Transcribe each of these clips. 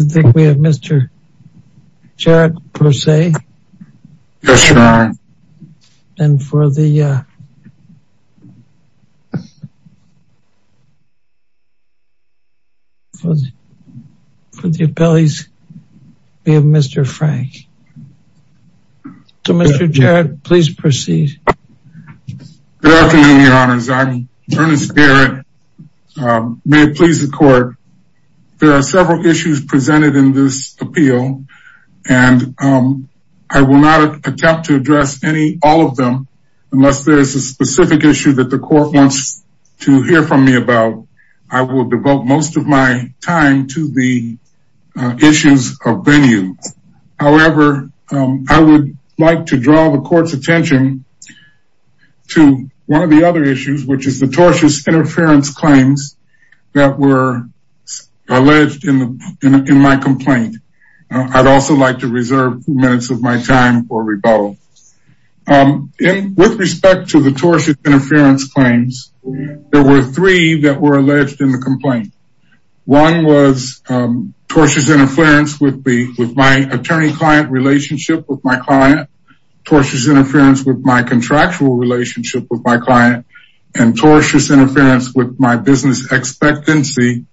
I think we have Mr. Jarrett per se. Yes, your honor. And for the, uh, for the appellees, we have Mr. Frank. So, Mr. Jarrett, please proceed. Good afternoon, your honors. I'm Ernest Jarrett. May it please the court. There are several issues presented in this appeal, and I will not attempt to address any, all of them, unless there is a specific issue that the court wants to hear from me about. I will devote most of my time to the issues of venue. However, I would like to draw the court's attention to one of the other issues, which is the tortious interference claims that were alleged in my complaint. I'd also like to reserve minutes of my time for rebuttal. With respect to the tortious interference claims, there were three that were alleged in the complaint. One was tortious interference with my attorney-client relationship with my client, tortious interference with my contractual relationship with my client, and tortious interference with my business expectancy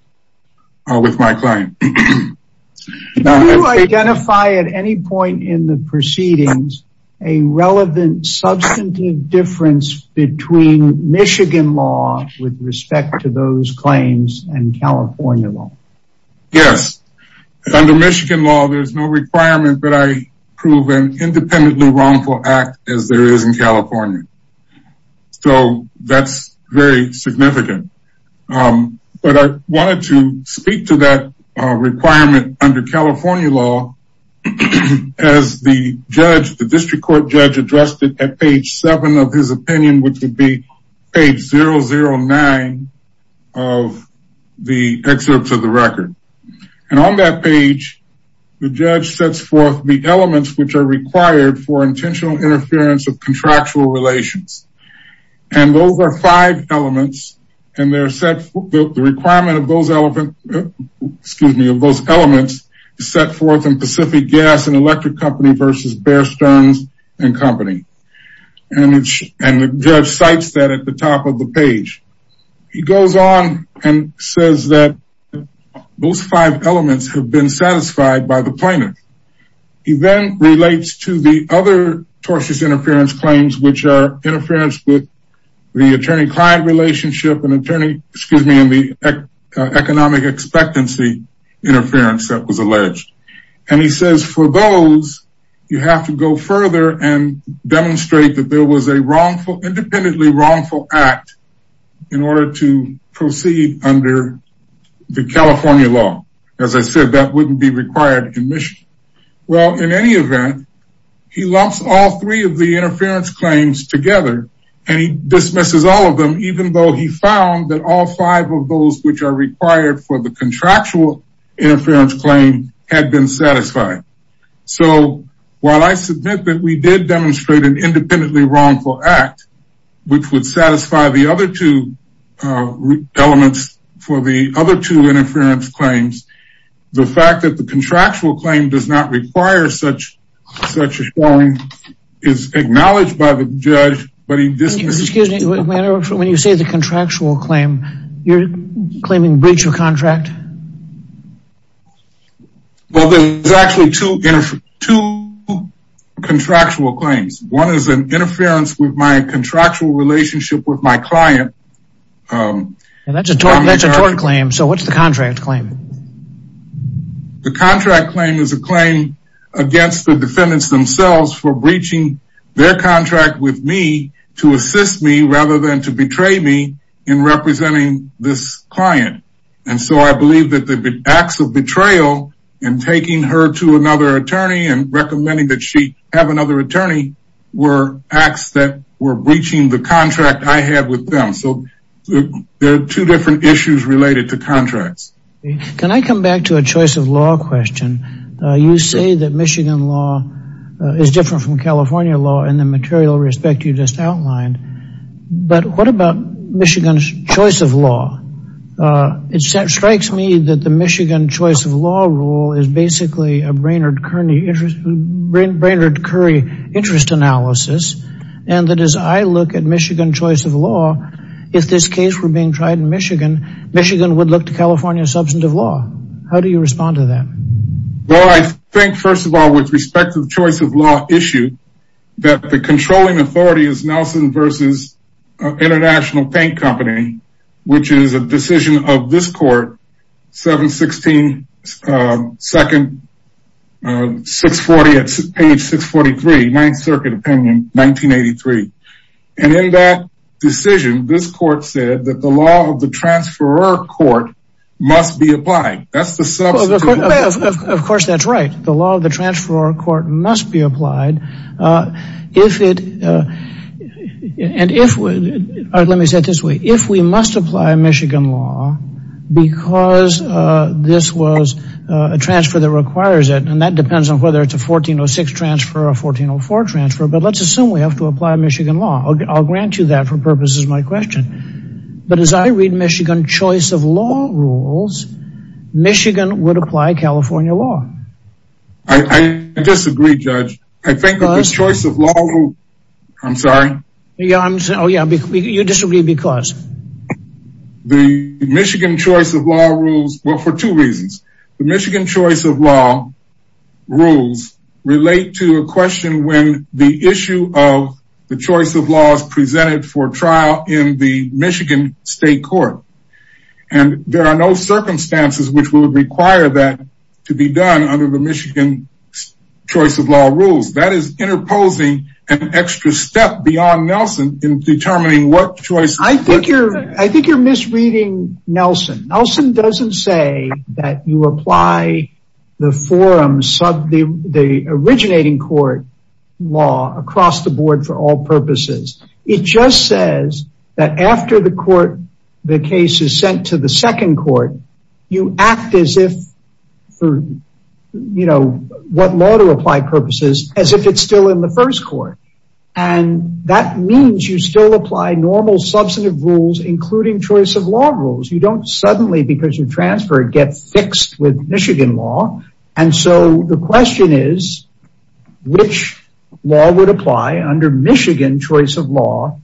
with my client. Do you identify at any point in the proceedings a relevant substantive difference between Michigan law with respect to those claims and California law? Yes. Under Michigan law, there's no requirement that I prove an independently wrongful act as there is in California. So, that's very significant. But I wanted to speak to that requirement under California law as the judge, the district court judge, addressed it at page seven of his opinion, which would be page 009 of the excerpts of the record. And on that page, the judge sets forth the elements which are required for intentional interference of contractual relations. And those are five elements and they're set the requirement of those elements, excuse me, of those elements set forth in Pacific Gas and Electric Company versus Bear Stearns and Company. And the judge cites that at the top of the page. He goes on and says that those five elements have been satisfied by the plaintiff. He then relates to the other tortious interference claims, which are interference with the attorney-client relationship and attorney, excuse me, and the economic expectancy interference that was alleged. And he says for those, you have to go further and demonstrate that there was a wrongful, independently wrongful act in order to proceed under the California law. As I said, that wouldn't be required in Michigan. Well, in any event, he lumps all three of the interference claims together and he dismisses all of them, even though he found that all five of those which are required for the contractual interference claim had been satisfied. So while I submit that we did demonstrate an independently wrongful act, which would satisfy the other two elements for the other two interference claims, the fact that the contractual claim does not require such a showing is acknowledged by the judge, but he dismisses... Excuse me, when you say the contractual claim, you're claiming breach of contract? Well, there's actually two contractual claims. One is an interference with my contractual relationship with my client. And that's a tort claim. So what's the contract claim? The contract claim is a claim against the defendants themselves for breaching their contract with me to assist me rather than to betray me in representing this client. And so I believe that the acts of betrayal in taking her to another attorney and recommending that she have another attorney were acts that were breaching the contract I had with them. So there are two different issues related to contracts. Can I come back to a choice of law question? You say that Michigan law is different from California law in the material respect you just outlined. But what about Michigan's choice of law? It strikes me that the Michigan choice of law rule is basically a Brainerd Curry interest analysis. And that as I look at Michigan choice of law, if this case were being tried in Michigan, Michigan would look to California substantive law. How do you respond to that? Well, I think first of all, with respect to the choice of law issue, that the controlling authority is Nelson versus International Paint Company, which is a decision of this court, 716, second, 640 at page 643, Ninth Circuit opinion, 1983. And in that decision, this court said that the law of the transferor court must be applied. That's the substitute. Of course, that's right. The law of the transferor court must be applied. And if, let me say it this way, if we must apply Michigan law because this was a transfer that requires it, and that depends on whether it's a 1406 transfer or a 1404 transfer, but let's assume we have to apply Michigan law. I'll grant you that for purposes of my question. But as I read choice of law, I'm sorry. Yeah, I'm sorry. Oh, yeah. You disagree because the Michigan choice of law rules were for two reasons. The Michigan choice of law rules relate to a question when the issue of the choice of laws presented for trial in the Michigan State Court. And there are no circumstances which would require that to be done under the Michigan choice of law rules. That is interposing an extra step beyond Nelson in determining what choice. I think you're misreading Nelson. Nelson doesn't say that you apply the forum sub the originating court law across the board for all purposes. It just says that after the court, the case is sent to the second court, you act as if for, you know, what law to apply purposes as if it's still in the first court. And that means you still apply normal substantive rules, including choice of law rules. You don't suddenly because you transfer get fixed with Michigan law. And so the question is, which law would apply under Michigan choice of law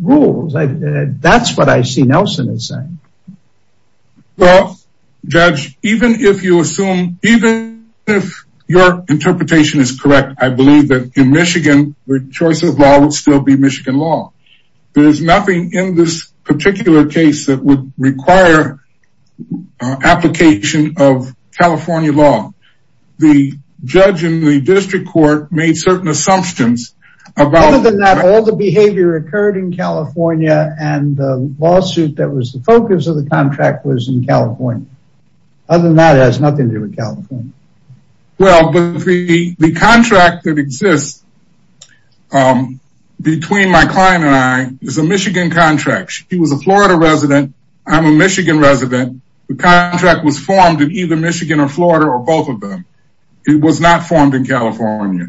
rules? That's what I see Nelson is saying. Well, judge, even if you assume even if your interpretation is correct, I believe that in Michigan, the choice of law would still be Michigan law. There's nothing in this particular case that would require application of California law. The judge in the district court made certain assumptions about... Other than that, all the behavior occurred in California and the lawsuit that was the focus of the contract was in California. Other than that, it has nothing to do with California. Well, but the contract that exists between my client and I is a Michigan contract. She was a Florida resident. I'm a both of them. It was not formed in California.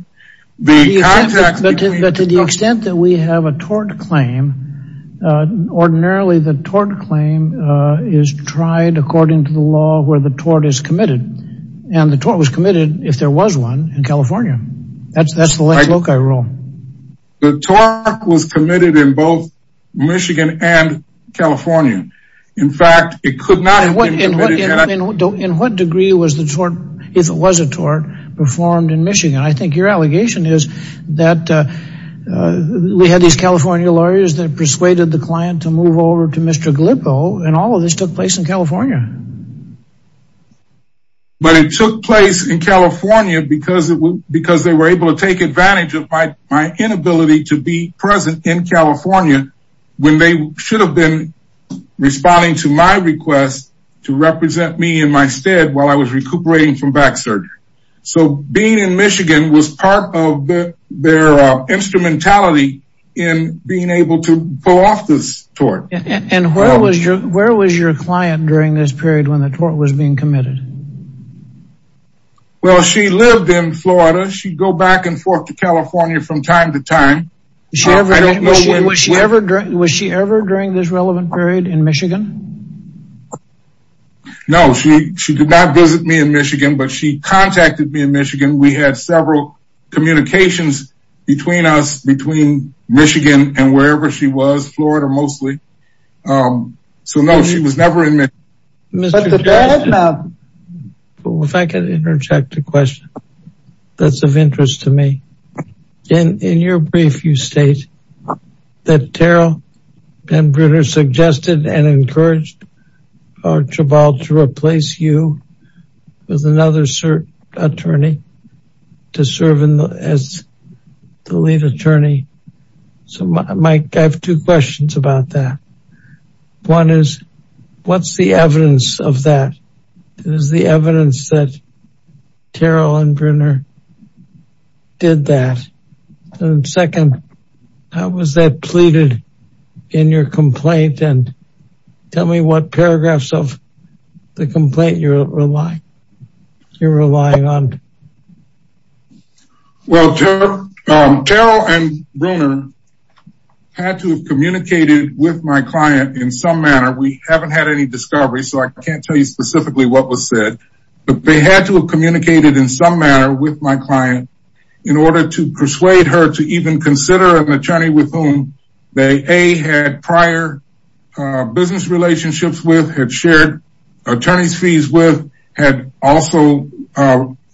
But to the extent that we have a tort claim, ordinarily, the tort claim is tried according to the law where the tort is committed. And the tort was committed if there was one in California. That's that's the loci rule. The tort was committed in both Michigan and California. In fact, it could not... In what degree was the tort, if it was a tort, performed in Michigan? I think your allegation is that we had these California lawyers that persuaded the client to move over to Mr. Glippo. And all of this took place in California. But it took place in California because it was because they were able to take advantage of my inability to be present in California when they should have been responding to my request to represent me in my stead while I was recuperating from back surgery. So being in Michigan was part of their instrumentality in being able to pull off this tort. And where was your client during this period when the tort was being committed? Well, she lived in Florida. She'd go back and forth to California from time to time. Was she ever during this relevant period in Michigan? No, she did not visit me in Michigan, but she contacted me in Michigan. We had several communications between us, between Michigan and wherever she was, Florida mostly. So no, she was never in Michigan. Mr. Chabal, if I could interject a question that's of interest to me. In your brief, you state that Terrell and Brunner suggested and encouraged our Chabal to replace you with another attorney to serve as the lead attorney. So Mike, I have two questions about that. One is, what's the evidence of that? Is the evidence that Terrell and Brunner did that? And second, how was that pleaded in your complaint? And tell me what paragraphs of the complaint you're relying on. Well, Terrell and Brunner had to have communicated with my client in some manner. We haven't had any discovery, so I can't tell you specifically what was said. But they had to have communicated in some manner with my client in order to persuade her to even consider an attorney with whom they A, had prior business relationships with, had shared attorney's fees with, had also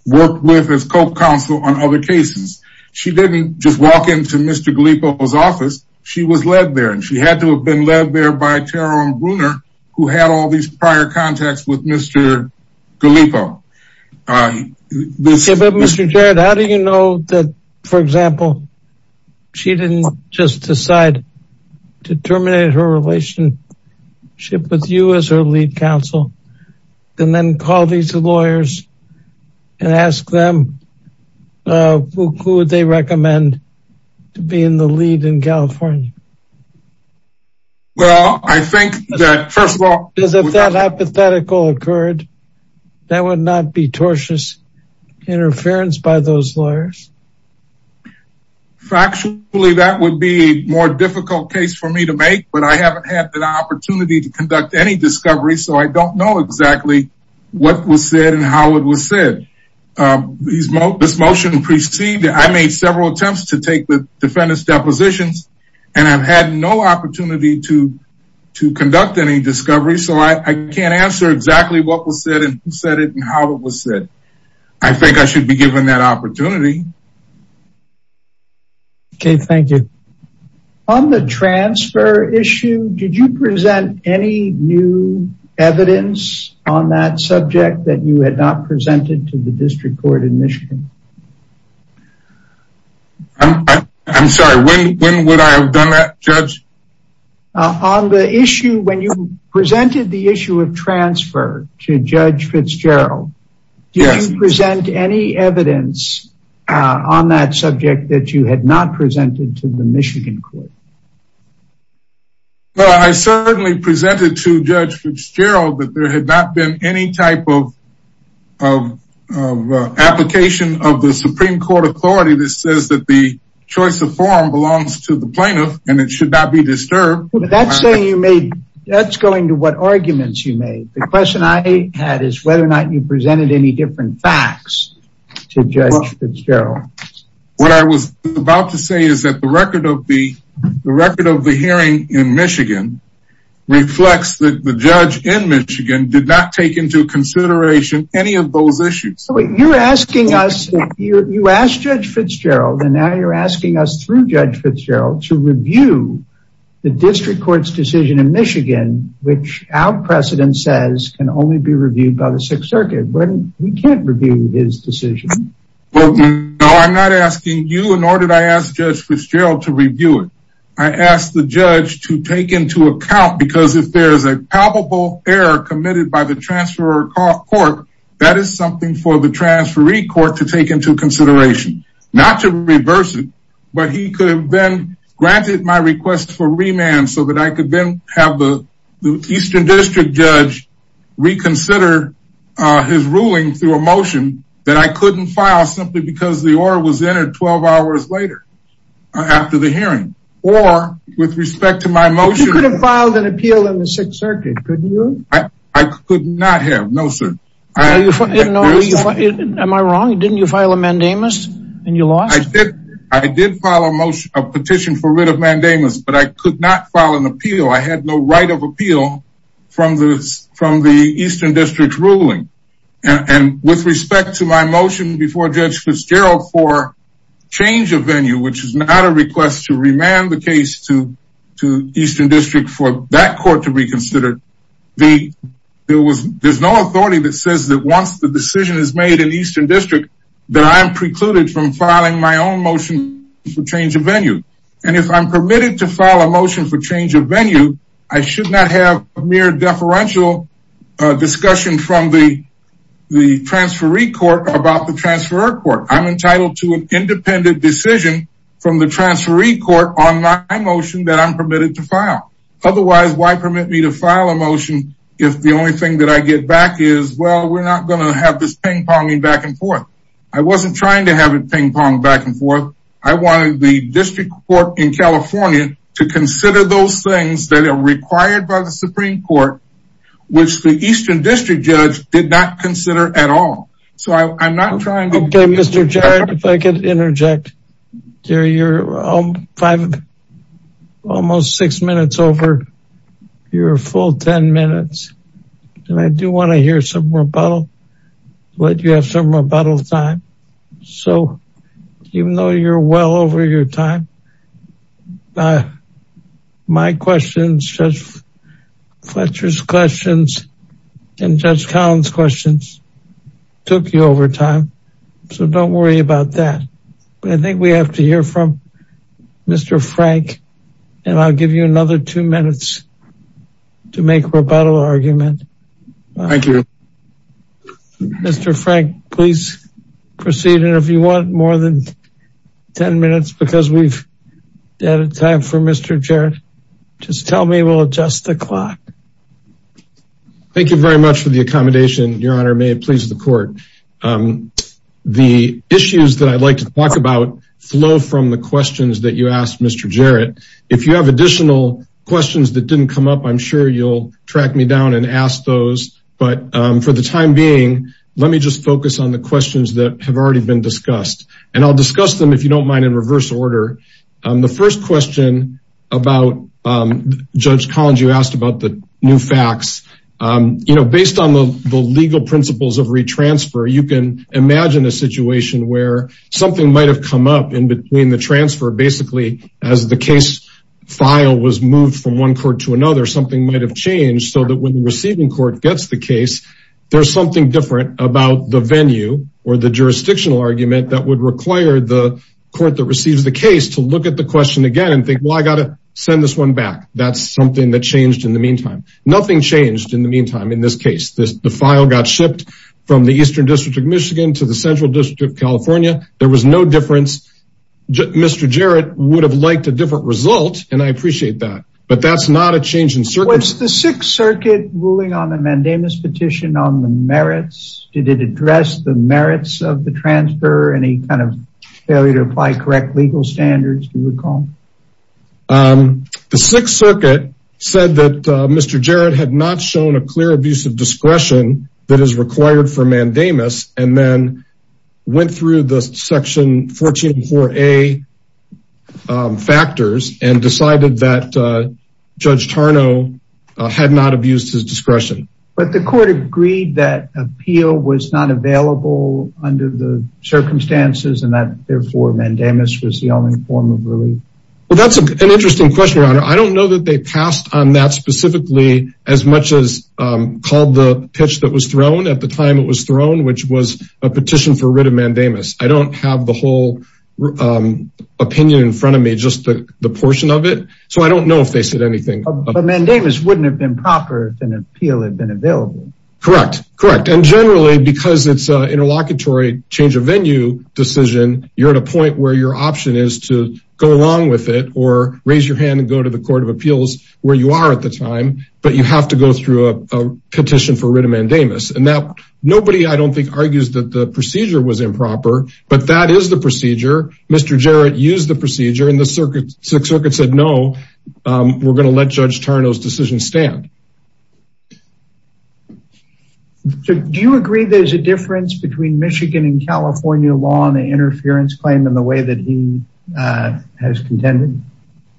worked with as co-counsel on other cases. She didn't just walk into Mr. Galipo's office. She was led there, and she had to have been led there by Terrell and Brunner, who had all these prior contacts with Mr. Galipo. But Mr. Jarrett, how do you know that, for example, she didn't just decide to terminate her relationship with you as her lead counsel, and then call these lawyers and ask them who would they recommend to be in the lead in California? Well, I think that, first of all... Because if that hypothetical occurred, that would not be tortious interference by those lawyers. Factually, that would be a more difficult case for me to make, but I haven't had the opportunity to conduct any discovery, so I don't know exactly what was said and how it was said. This motion preceded... I made several attempts to take the defendant's depositions, and I've had no opportunity to conduct any discovery, so I can't answer exactly what was said and who said it and how it was said. I think I should be given that opportunity. Okay, thank you. On the transfer issue, did you present any new evidence on that subject that you had not presented to the District Court in Michigan? I'm sorry, when would I have done that, Judge? On the issue, when you presented the issue of transfer to Judge Fitzgerald, did you present any evidence on that subject that you had not presented to the Michigan Court? Well, I certainly presented to Judge Fitzgerald that there had not been any type of application of the Supreme Court authority that says that the choice of forum belongs to the plaintiff and it should not be disturbed. That's saying you made... That's going to what arguments you made. The question I had is whether or not you presented any different facts to Judge Fitzgerald. What I was about to say is that the record of the hearing in Michigan reflects that the judge in Michigan did not take into consideration any of those issues. You're asking us, you asked Judge Fitzgerald, and now you're asking us through Judge Fitzgerald to review the District Court's decision in Michigan, which our precedent says can only be reviewed by the Sixth Circuit. We can't review his decision. No, I'm not asking you, nor did I ask Judge Fitzgerald to review it. I asked the judge to take into account because if there is a palpable error committed by the transferor court, that is something for the transferee court to take into consideration. Not to reverse it, but he could have then granted my request for remand so that I could then have the Eastern District Judge reconsider his ruling through a motion that I couldn't file simply because the order was entered 12 hours later after the hearing. Or with respect to my motion... You could have filed an appeal in the Sixth Circuit, couldn't you? I could not have, no sir. No, am I wrong? Didn't you file a mandamus and you lost it? I did file a petition for rid of mandamus, but I could not file an appeal. I had no right of appeal from the Eastern District's ruling. And with respect to my motion before Judge Fitzgerald for change of venue, which is not a request to remand the case to Eastern District for that court to reconsider, there's no authority that says that once the decision is made in Eastern District that I'm precluded from filing my own motion for change of venue. And if I'm permitted to file a motion for change of venue, I should not have a mere deferential discussion from the transferee court about the transferor court. I'm entitled to an independent decision from the transferee court on my motion that I'm permitted to file. Otherwise, why permit me to file a motion if the only thing that I get back is, well, we're not going to have this ping-ponging back and forth. I wasn't trying to have it ping-pong back and forth. I wanted the District Court in California to consider those things that are required by the Supreme Court, which the Eastern District judge did not consider at all. So I'm not trying to... Mr. Jarrett, if I could interject. You're almost six minutes over your full 10 minutes. And I do want to hear some rebuttal, let you have some rebuttal time. So even though you're well over your time, my questions, Judge Fletcher's questions, and Judge Collins' questions took you over time. So don't worry about that. But I think we have to hear from Mr. Frank, and I'll give you another two minutes to make rebuttal argument. Thank you. Mr. Frank, please proceed. And if you want more than 10 minutes, because we've out of time for Mr. Jarrett, just tell me, we'll adjust the clock. Thank you very much for the accommodation, Your Honor. May it please the Court. The issues that I'd like to talk about flow from the questions that you asked, Mr. Jarrett. If you have additional questions that didn't come up, I'm sure you'll track me down and ask those. But for the time being, let me just focus on the questions that have already been discussed. And I'll discuss them, if you don't mind, in reverse order. The first question about Judge Collins, you asked about the new facts. You know, based on the legal principles of retransfer, you can imagine a situation where something might have come up in between the transfer. Basically, as the case file was moved from one court to another, something might have changed so that when the receiving court gets the the court that receives the case to look at the question again and think, well, I got to send this one back. That's something that changed in the meantime. Nothing changed in the meantime. In this case, the file got shipped from the Eastern District of Michigan to the Central District of California. There was no difference. Mr. Jarrett would have liked a different result, and I appreciate that. But that's not a change in circumstance. Was the Sixth Circuit ruling on the mandamus petition on the merits? Did it address the failure to apply correct legal standards, do you recall? The Sixth Circuit said that Mr. Jarrett had not shown a clear abuse of discretion that is required for mandamus, and then went through the section 14.4a factors and decided that Judge Tarnow had not abused his discretion. But the court agreed that appeal was not available under the circumstances, and that therefore mandamus was the only form of relief. Well, that's an interesting question, Your Honor. I don't know that they passed on that specifically as much as called the pitch that was thrown at the time it was thrown, which was a petition for writ of mandamus. I don't have the whole opinion in front of me, just the portion of it. So I don't know if improper and appeal had been available. Correct. Correct. And generally, because it's an interlocutory change of venue decision, you're at a point where your option is to go along with it or raise your hand and go to the Court of Appeals where you are at the time, but you have to go through a petition for writ of mandamus. And now nobody, I don't think, argues that the procedure was improper, but that is the procedure. Mr. Jarrett used the procedure and the circuit said no, we're going to let Judge Tarnow's decision stand. Do you agree there's a difference between Michigan and California law on the interference claim in the way that he has contended?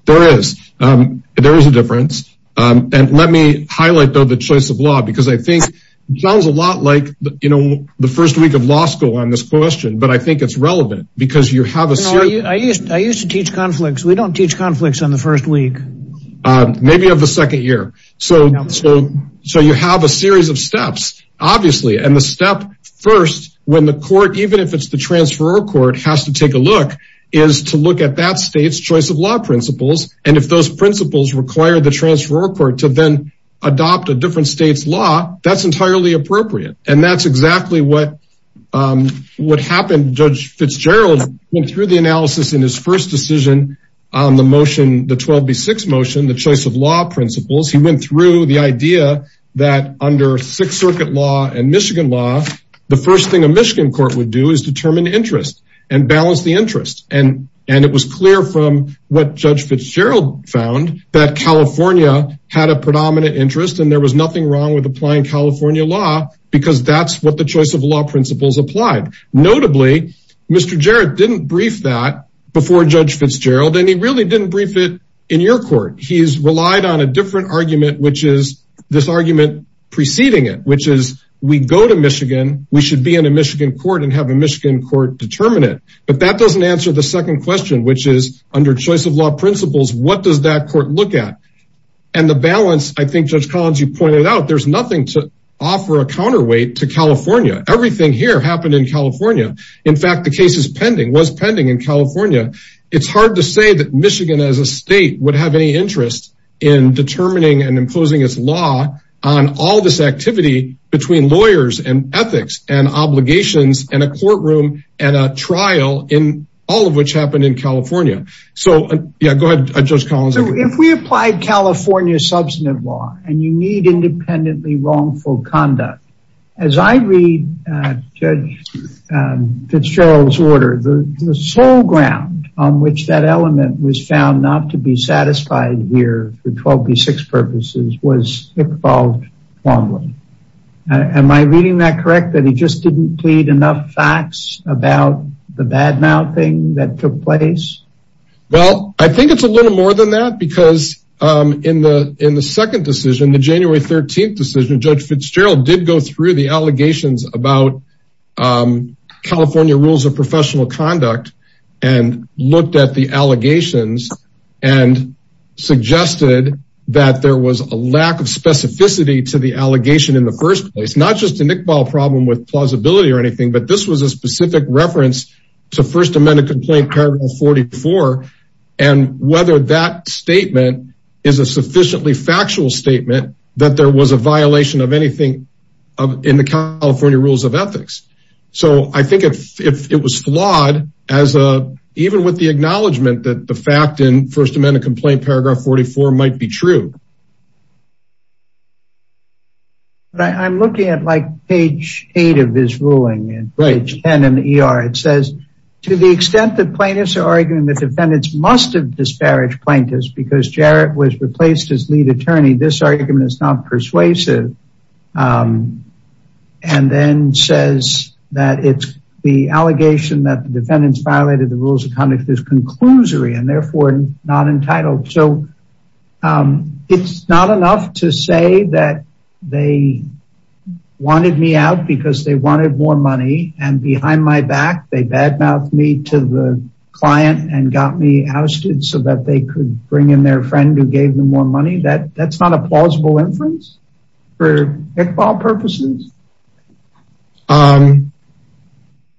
There is. There is a difference. And let me highlight, though, the choice of law, because I think it sounds a lot like, you know, the first week of law school on this question, but I think it's relevant because you have a. I used to teach conflicts. We don't teach conflicts on the first week, maybe of the second year. So. So you have a series of steps, obviously. And the step first, when the court, even if it's the transferor court, has to take a look is to look at that state's choice of law principles. And if those principles require the transferor court to then adopt a different state's law, that's entirely appropriate. And that's exactly what happened. Judge Fitzgerald went through the analysis in his first decision on the motion, the 12B6 motion, the choice of law principles. He went through the idea that under Sixth Circuit law and Michigan law, the first thing a Michigan court would do is determine interest and balance the interest. And it was clear from what Judge Fitzgerald found that California had a predominant interest and there was nothing wrong with applying California law because that's what the choice of law principles applied. Notably, Mr. Jarrett didn't brief that before Judge Fitzgerald, and he really didn't brief it in your court. He's relied on a different argument, which is this argument preceding it, which is we go to Michigan, we should be in a Michigan court and have a Michigan court determine it. But that doesn't answer the second question, which is under choice of law principles, what does that court look at? And the balance, I think, Judge Collins, you pointed out, there's nothing to offer a counterweight to California. Everything here happened in California. In fact, the case is pending, was pending in California. It's hard to say that Michigan as a state would have any interest in determining and imposing its law on all this activity between lawyers and ethics and obligations and a courtroom and a trial in all of which happened in California. So, yeah, go ahead, Judge Collins. If we applied California substantive law, and you need independently wrongful conduct, as I read Judge Fitzgerald's order, the sole ground on which that element was found not to be satisfied here for 12b6 purposes was evolved wrongly. Am I reading that correct, that he just didn't plead enough facts about the badmouthing that took place? Well, I think it's a little more than that, because in the second decision, the January 13th decision, Judge Fitzgerald did go through the allegations about California rules of professional conduct, and looked at the allegations and suggested that there was a lack of specificity to the allegation in the first place, not just a complaint paragraph 44, and whether that statement is a sufficiently factual statement that there was a violation of anything in the California rules of ethics. So I think if it was flawed, even with the acknowledgement that the fact in First Amendment complaint paragraph 44 might be true. But I'm looking at like page eight of his ruling and page 10 in the ER, it says, to the extent that plaintiffs are arguing that defendants must have disparaged plaintiffs, because Jarrett was replaced as lead attorney, this argument is not persuasive. And then says that it's the allegation that the defendants violated the rules of conduct is conclusory and therefore not entitled. So it's not enough to say that they wanted me out because they wanted more money. And behind my back, they bad mouth me to the client and got me ousted so that they could bring in their friend who gave them more money that that's not a plausible inference for all purposes.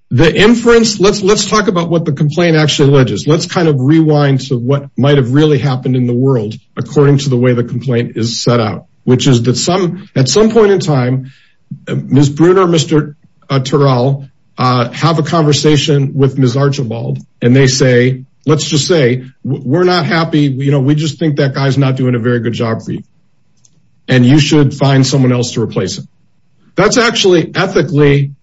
The inference let's let's talk about what the complaint actually ledges. Let's kind of rewind to what might have really happened in the world, according to the way the complaint is set out, which is that some at some point in time, Ms. Brunner, Mr. Terrell, have a conversation with Ms. Archibald. And they say, let's just say, we're not happy. You know, we just think that guy's not doing a very good job for you. And you should find someone else to replace it. That's actually ethically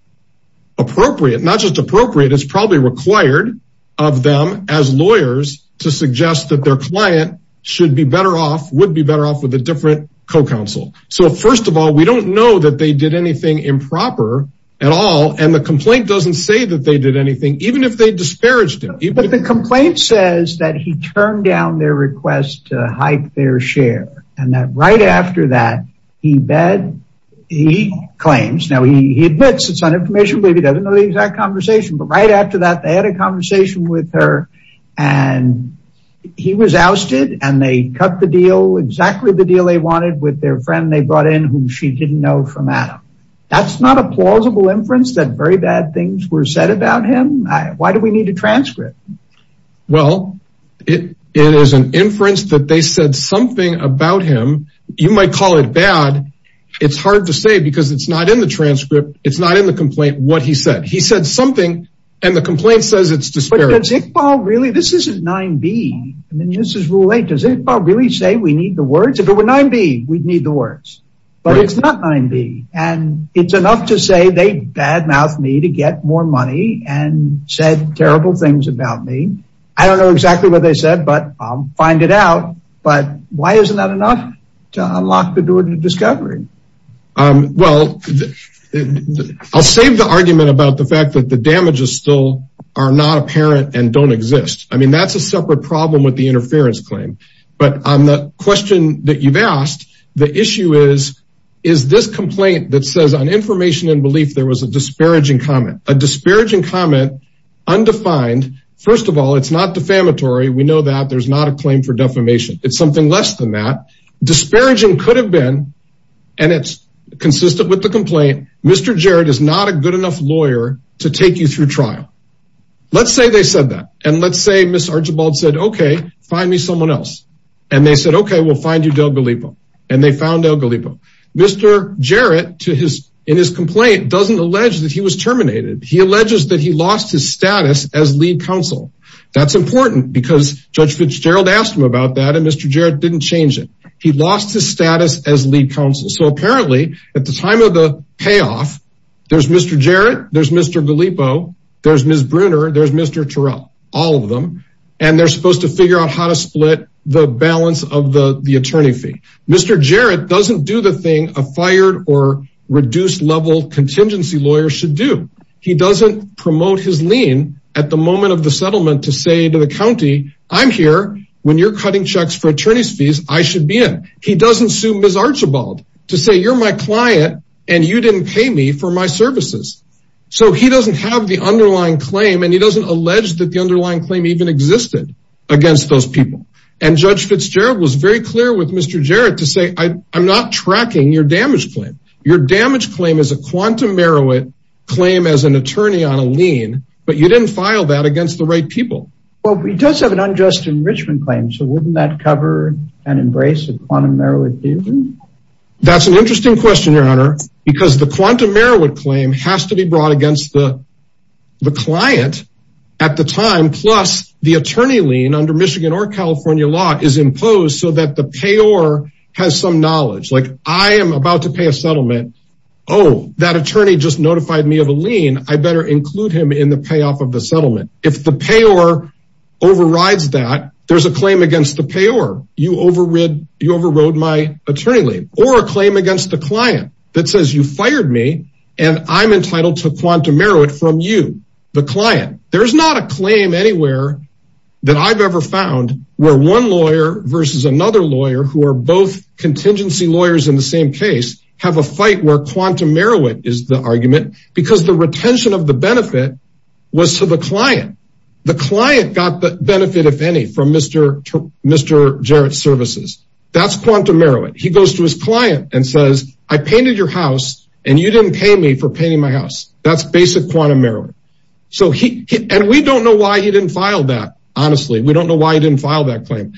appropriate, not just appropriate, it's probably required of them as lawyers to suggest that their client should be better off would be better off with a different co-counsel. So first of all, we don't know that they did anything improper at all. And the complaint doesn't say that they did anything, even if they disparaged him. But the complaint says that he turned down their request to hike their share. And that right after that, he bet he claims now he admits it's not information, but he doesn't know the exact conversation. But right after that, they had a he was ousted, and they cut the deal exactly the deal they wanted with their friend they brought in whom she didn't know from Adam. That's not a plausible inference that very bad things were said about him. Why do we need a transcript? Well, it is an inference that they said something about him, you might call it bad. It's hard to say because it's not in the transcript. It's not in the complaint what he said he said something. And the complaint says it's disparaging really, this isn't 9b. And then this is rule eight. Does it really say we need the words? If it were 9b, we'd need the words. But it's not 9b. And it's enough to say they bad mouth me to get more money and said terrible things about me. I don't know exactly what they said, but I'll find it out. But why isn't that enough to unlock the door to discovery? Well, I'll save the argument about the with the interference claim. But on the question that you've asked, the issue is, is this complaint that says on information and belief, there was a disparaging comment, a disparaging comment, undefined. First of all, it's not defamatory. We know that there's not a claim for defamation. It's something less than that disparaging could have been. And it's consistent with the complaint. Mr. Jared is not a good enough lawyer to take you through trial. Let's say they said that. And let's say Ms. Archibald said, okay, find me someone else. And they said, okay, we'll find you Del Galipo. And they found Del Galipo. Mr. Jared to his in his complaint doesn't allege that he was terminated. He alleges that he lost his status as lead counsel. That's important because Judge Fitzgerald asked him about that. And Mr. Jared didn't change it. He lost his status as lead counsel. So apparently at the time of the payoff, there's Mr. Jared, there's Mr. Galipo, there's Ms. Bruner, there's Mr. Terrell, all of them. And they're supposed to figure out how to split the balance of the attorney fee. Mr. Jared doesn't do the thing a fired or reduced level contingency lawyer should do. He doesn't promote his lien at the moment of the settlement to say to the county, I'm here when you're cutting checks for attorney's fees, I should be in. He doesn't sue Ms. Archibald to say you're my client and you didn't pay me for my services. So he doesn't have the underlying claim and he doesn't allege that the underlying claim even existed against those people. And Judge Fitzgerald was very clear with Mr. Jared to say, I'm not tracking your damage claim. Your damage claim is a quantum merit claim as an attorney on a lien, but you didn't file that against the right people. Well, we just have an unjust enrichment claim. So wouldn't that cover and embrace quantum merit? That's an interesting question, Your Honor, because the quantum merit claim has to be brought against the client at the time. Plus the attorney lien under Michigan or California law is imposed so that the payor has some knowledge. Like I am about to pay a settlement. Oh, that attorney just notified me of a lien. I better include him in the payoff of the settlement. If payor overrides that, there's a claim against the payor. You overrode my attorney lien or a claim against the client that says you fired me and I'm entitled to quantum merit from you, the client. There's not a claim anywhere that I've ever found where one lawyer versus another lawyer who are both contingency lawyers in the same case have a fight where quantum merit is the argument because the retention of the benefit was to the client. The client got the benefit, if any, from Mr. Jarrett's services. That's quantum merit. He goes to his client and says, I painted your house and you didn't pay me for painting my house. That's basic quantum merit. And we don't know why he didn't file that. Honestly, we don't know why he didn't file that claim.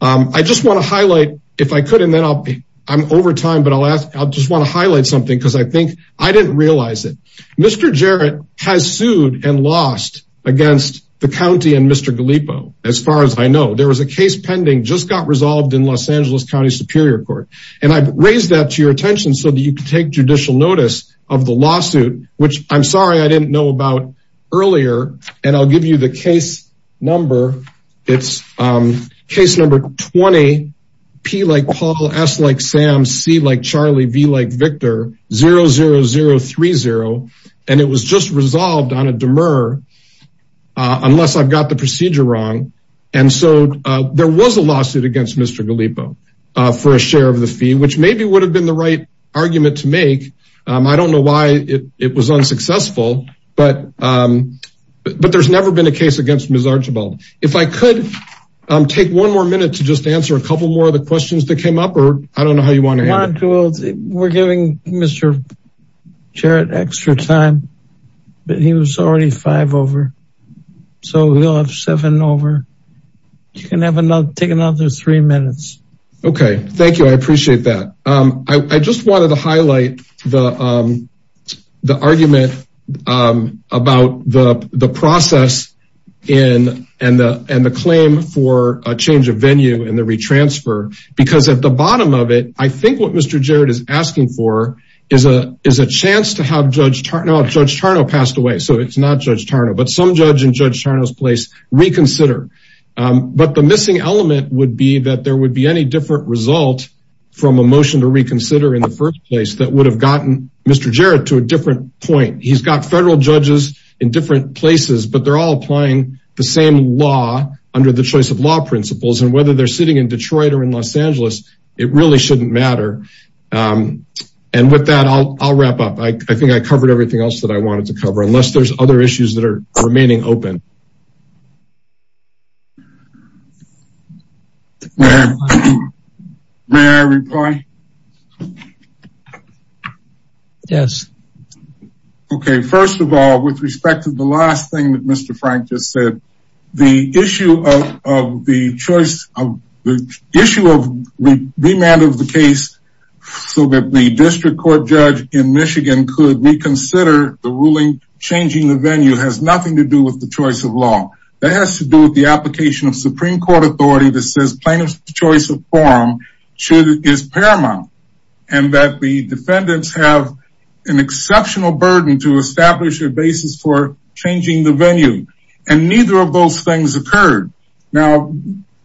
I just want to highlight if I could, and then I'll be, I'm over time, but I'll ask, I'll just want to highlight something because I think I didn't realize it. Mr. Jarrett has sued and lost against the county and Mr. Gallipo. As far as I know, there was a case pending just got resolved in Los Angeles County Superior Court. And I've raised that to your attention so that you can take judicial notice of the lawsuit, which I'm sorry, I didn't know about earlier. And I'll give you the case number. It's case number 20, P like Paul, S like Sam, C like Charlie, V like Victor, 00030. And it was just resolved on a demur, unless I've got the procedure wrong. And so there was a lawsuit against Mr. Gallipo for a share of the fee, which maybe would have been the right argument to make. I don't know why it was unsuccessful, but there's never been a case against Ms. Archibald. If I could take one more minute to just answer a couple more of the questions that came up, or I don't know how you want to handle it. We're giving Mr. Jarrett extra time, but he was already five over. So we'll have seven over. You can have another, take another three minutes. Okay. Thank you. I appreciate that. I just wanted to highlight the argument about the process and the claim for a change of venue and the re-transfer. Because at the bottom of it, I think what Mr. Jarrett is asking for is a chance to have Judge Tarnow passed away. So it's not Judge Tarnow, but some judge in Judge Tarnow's place reconsider. But the missing element would be that there would be any different result from a motion to reconsider in the first place that would have gotten Mr. Jarrett to a different point. He's got federal judges in different places, but they're all applying the same law under the choice of law principles. And whether they're sitting in Detroit or in Los Angeles, it really shouldn't matter. And with that, I'll wrap up. I think I covered everything else that I wanted to cover, unless there's other issues that are remaining open. May I reply? Yes. Okay. First of all, with respect to the last thing that Mr. Frank just said, the issue of the choice of the issue of the remand of the case, so that the district court judge in has to do with the application of Supreme Court authority that says plaintiff's choice of form is paramount. And that the defendants have an exceptional burden to establish a basis for changing the venue. And neither of those things occurred. Now,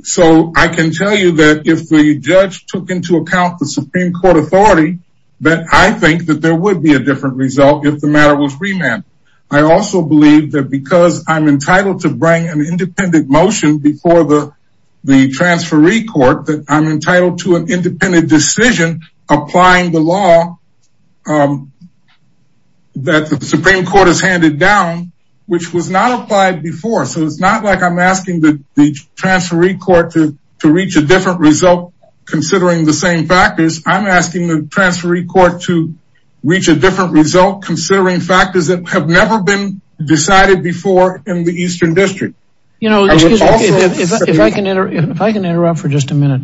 so I can tell you that if the judge took into account the Supreme Court authority, that I think that there would be different result if the matter was remanded. I also believe that because I'm entitled to bring an independent motion before the transferee court, that I'm entitled to an independent decision applying the law that the Supreme Court has handed down, which was not applied before. So it's not like I'm asking the transferee court to reach a different result, considering the same factors. I'm asking the transferee court to reach a different result, considering factors that have never been decided before in the Eastern District. You know, if I can interrupt for just a minute,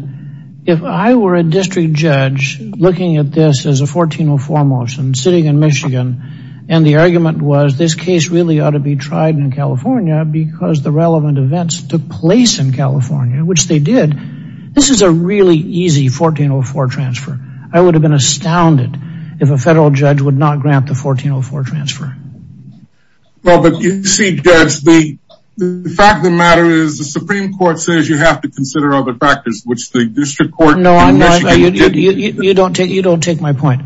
if I were a district judge looking at this as a 1404 motion sitting in Michigan, and the argument was this case really ought to be tried in California because the relevant events took place in California, which they did. This is a really easy 1404 transfer. I would have been astounded if a federal judge would not grant the 1404 transfer. Well, but you see, Judge, the fact of the matter is the Supreme Court says you have to consider other factors, which the district court in Michigan did. You don't take my point.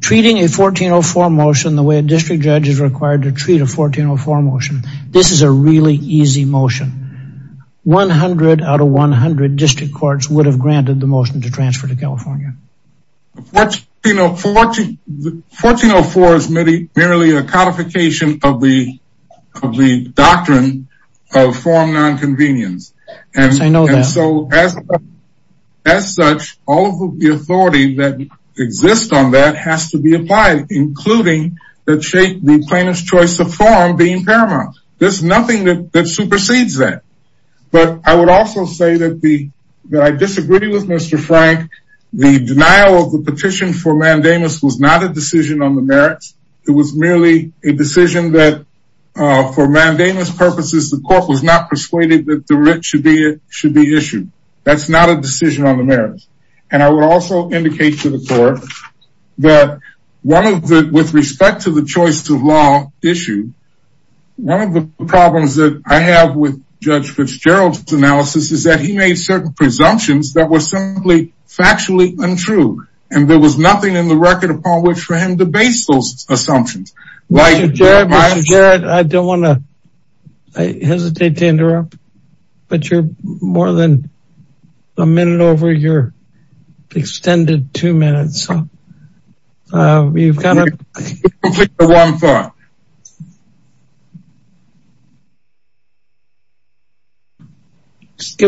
Treating a 1404 motion the way a district judge is required to treat a 1404 motion. This is a really easy motion. 100 out of 100 district courts would have granted the motion to transfer to California. 1404 is merely a codification of the doctrine of form non-convenience. Yes, I know that. And so as such, all of the authority that the plaintiff's choice of form being paramount. There's nothing that supersedes that. But I would also say that I disagree with Mr. Frank. The denial of the petition for mandamus was not a decision on the merits. It was merely a decision that for mandamus purposes, the court was not persuaded that the writ should be issued. That's not a decision on the merits. And I would also indicate to the court that one of the with respect to the choice of law issue, one of the problems that I have with Judge Fitzgerald's analysis is that he made certain presumptions that were simply factually untrue. And there was nothing in the record upon which for him to base those assumptions. I don't want to I hesitate to interrupt, but you're more than a minute over your extended two minutes. Give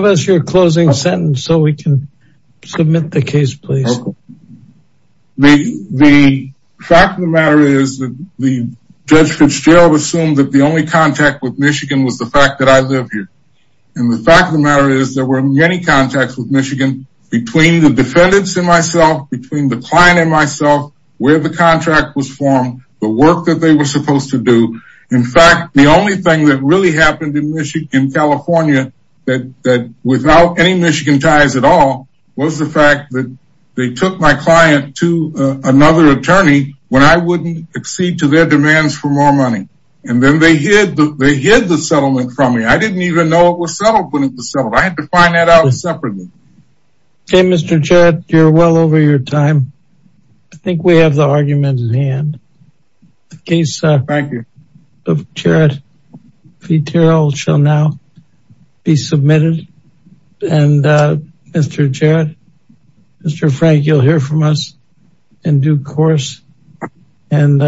us your closing sentence so we can submit the case, please. The fact of the matter is that the Judge Fitzgerald assumed that the only contact with Michigan was the fact that I live here. And the fact of the matter is there were many contacts with Michigan between the defendants and myself, between the client and myself, where the contract was formed, the work that they were supposed to do. In fact, the only thing that really happened in California that without any Michigan ties at all was the fact that they took my client to another attorney when I wouldn't accede to their demands for more money. And then they hid the settlement from me. I didn't even know it was settled when it was settled. I had to find that separately. Okay, Mr. Jarrett, you're well over your time. I think we have the argument in hand. The case of Jarrett Fitzgerald shall now be submitted. And Mr. Jarrett, Mr. Frank, you'll hear from us in due course. And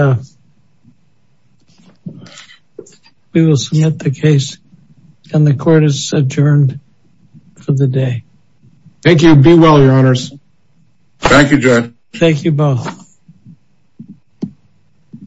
we will submit the case and the court is adjourned for the day. Thank you. Be well, your honors. Thank you, Judd. Thank you both.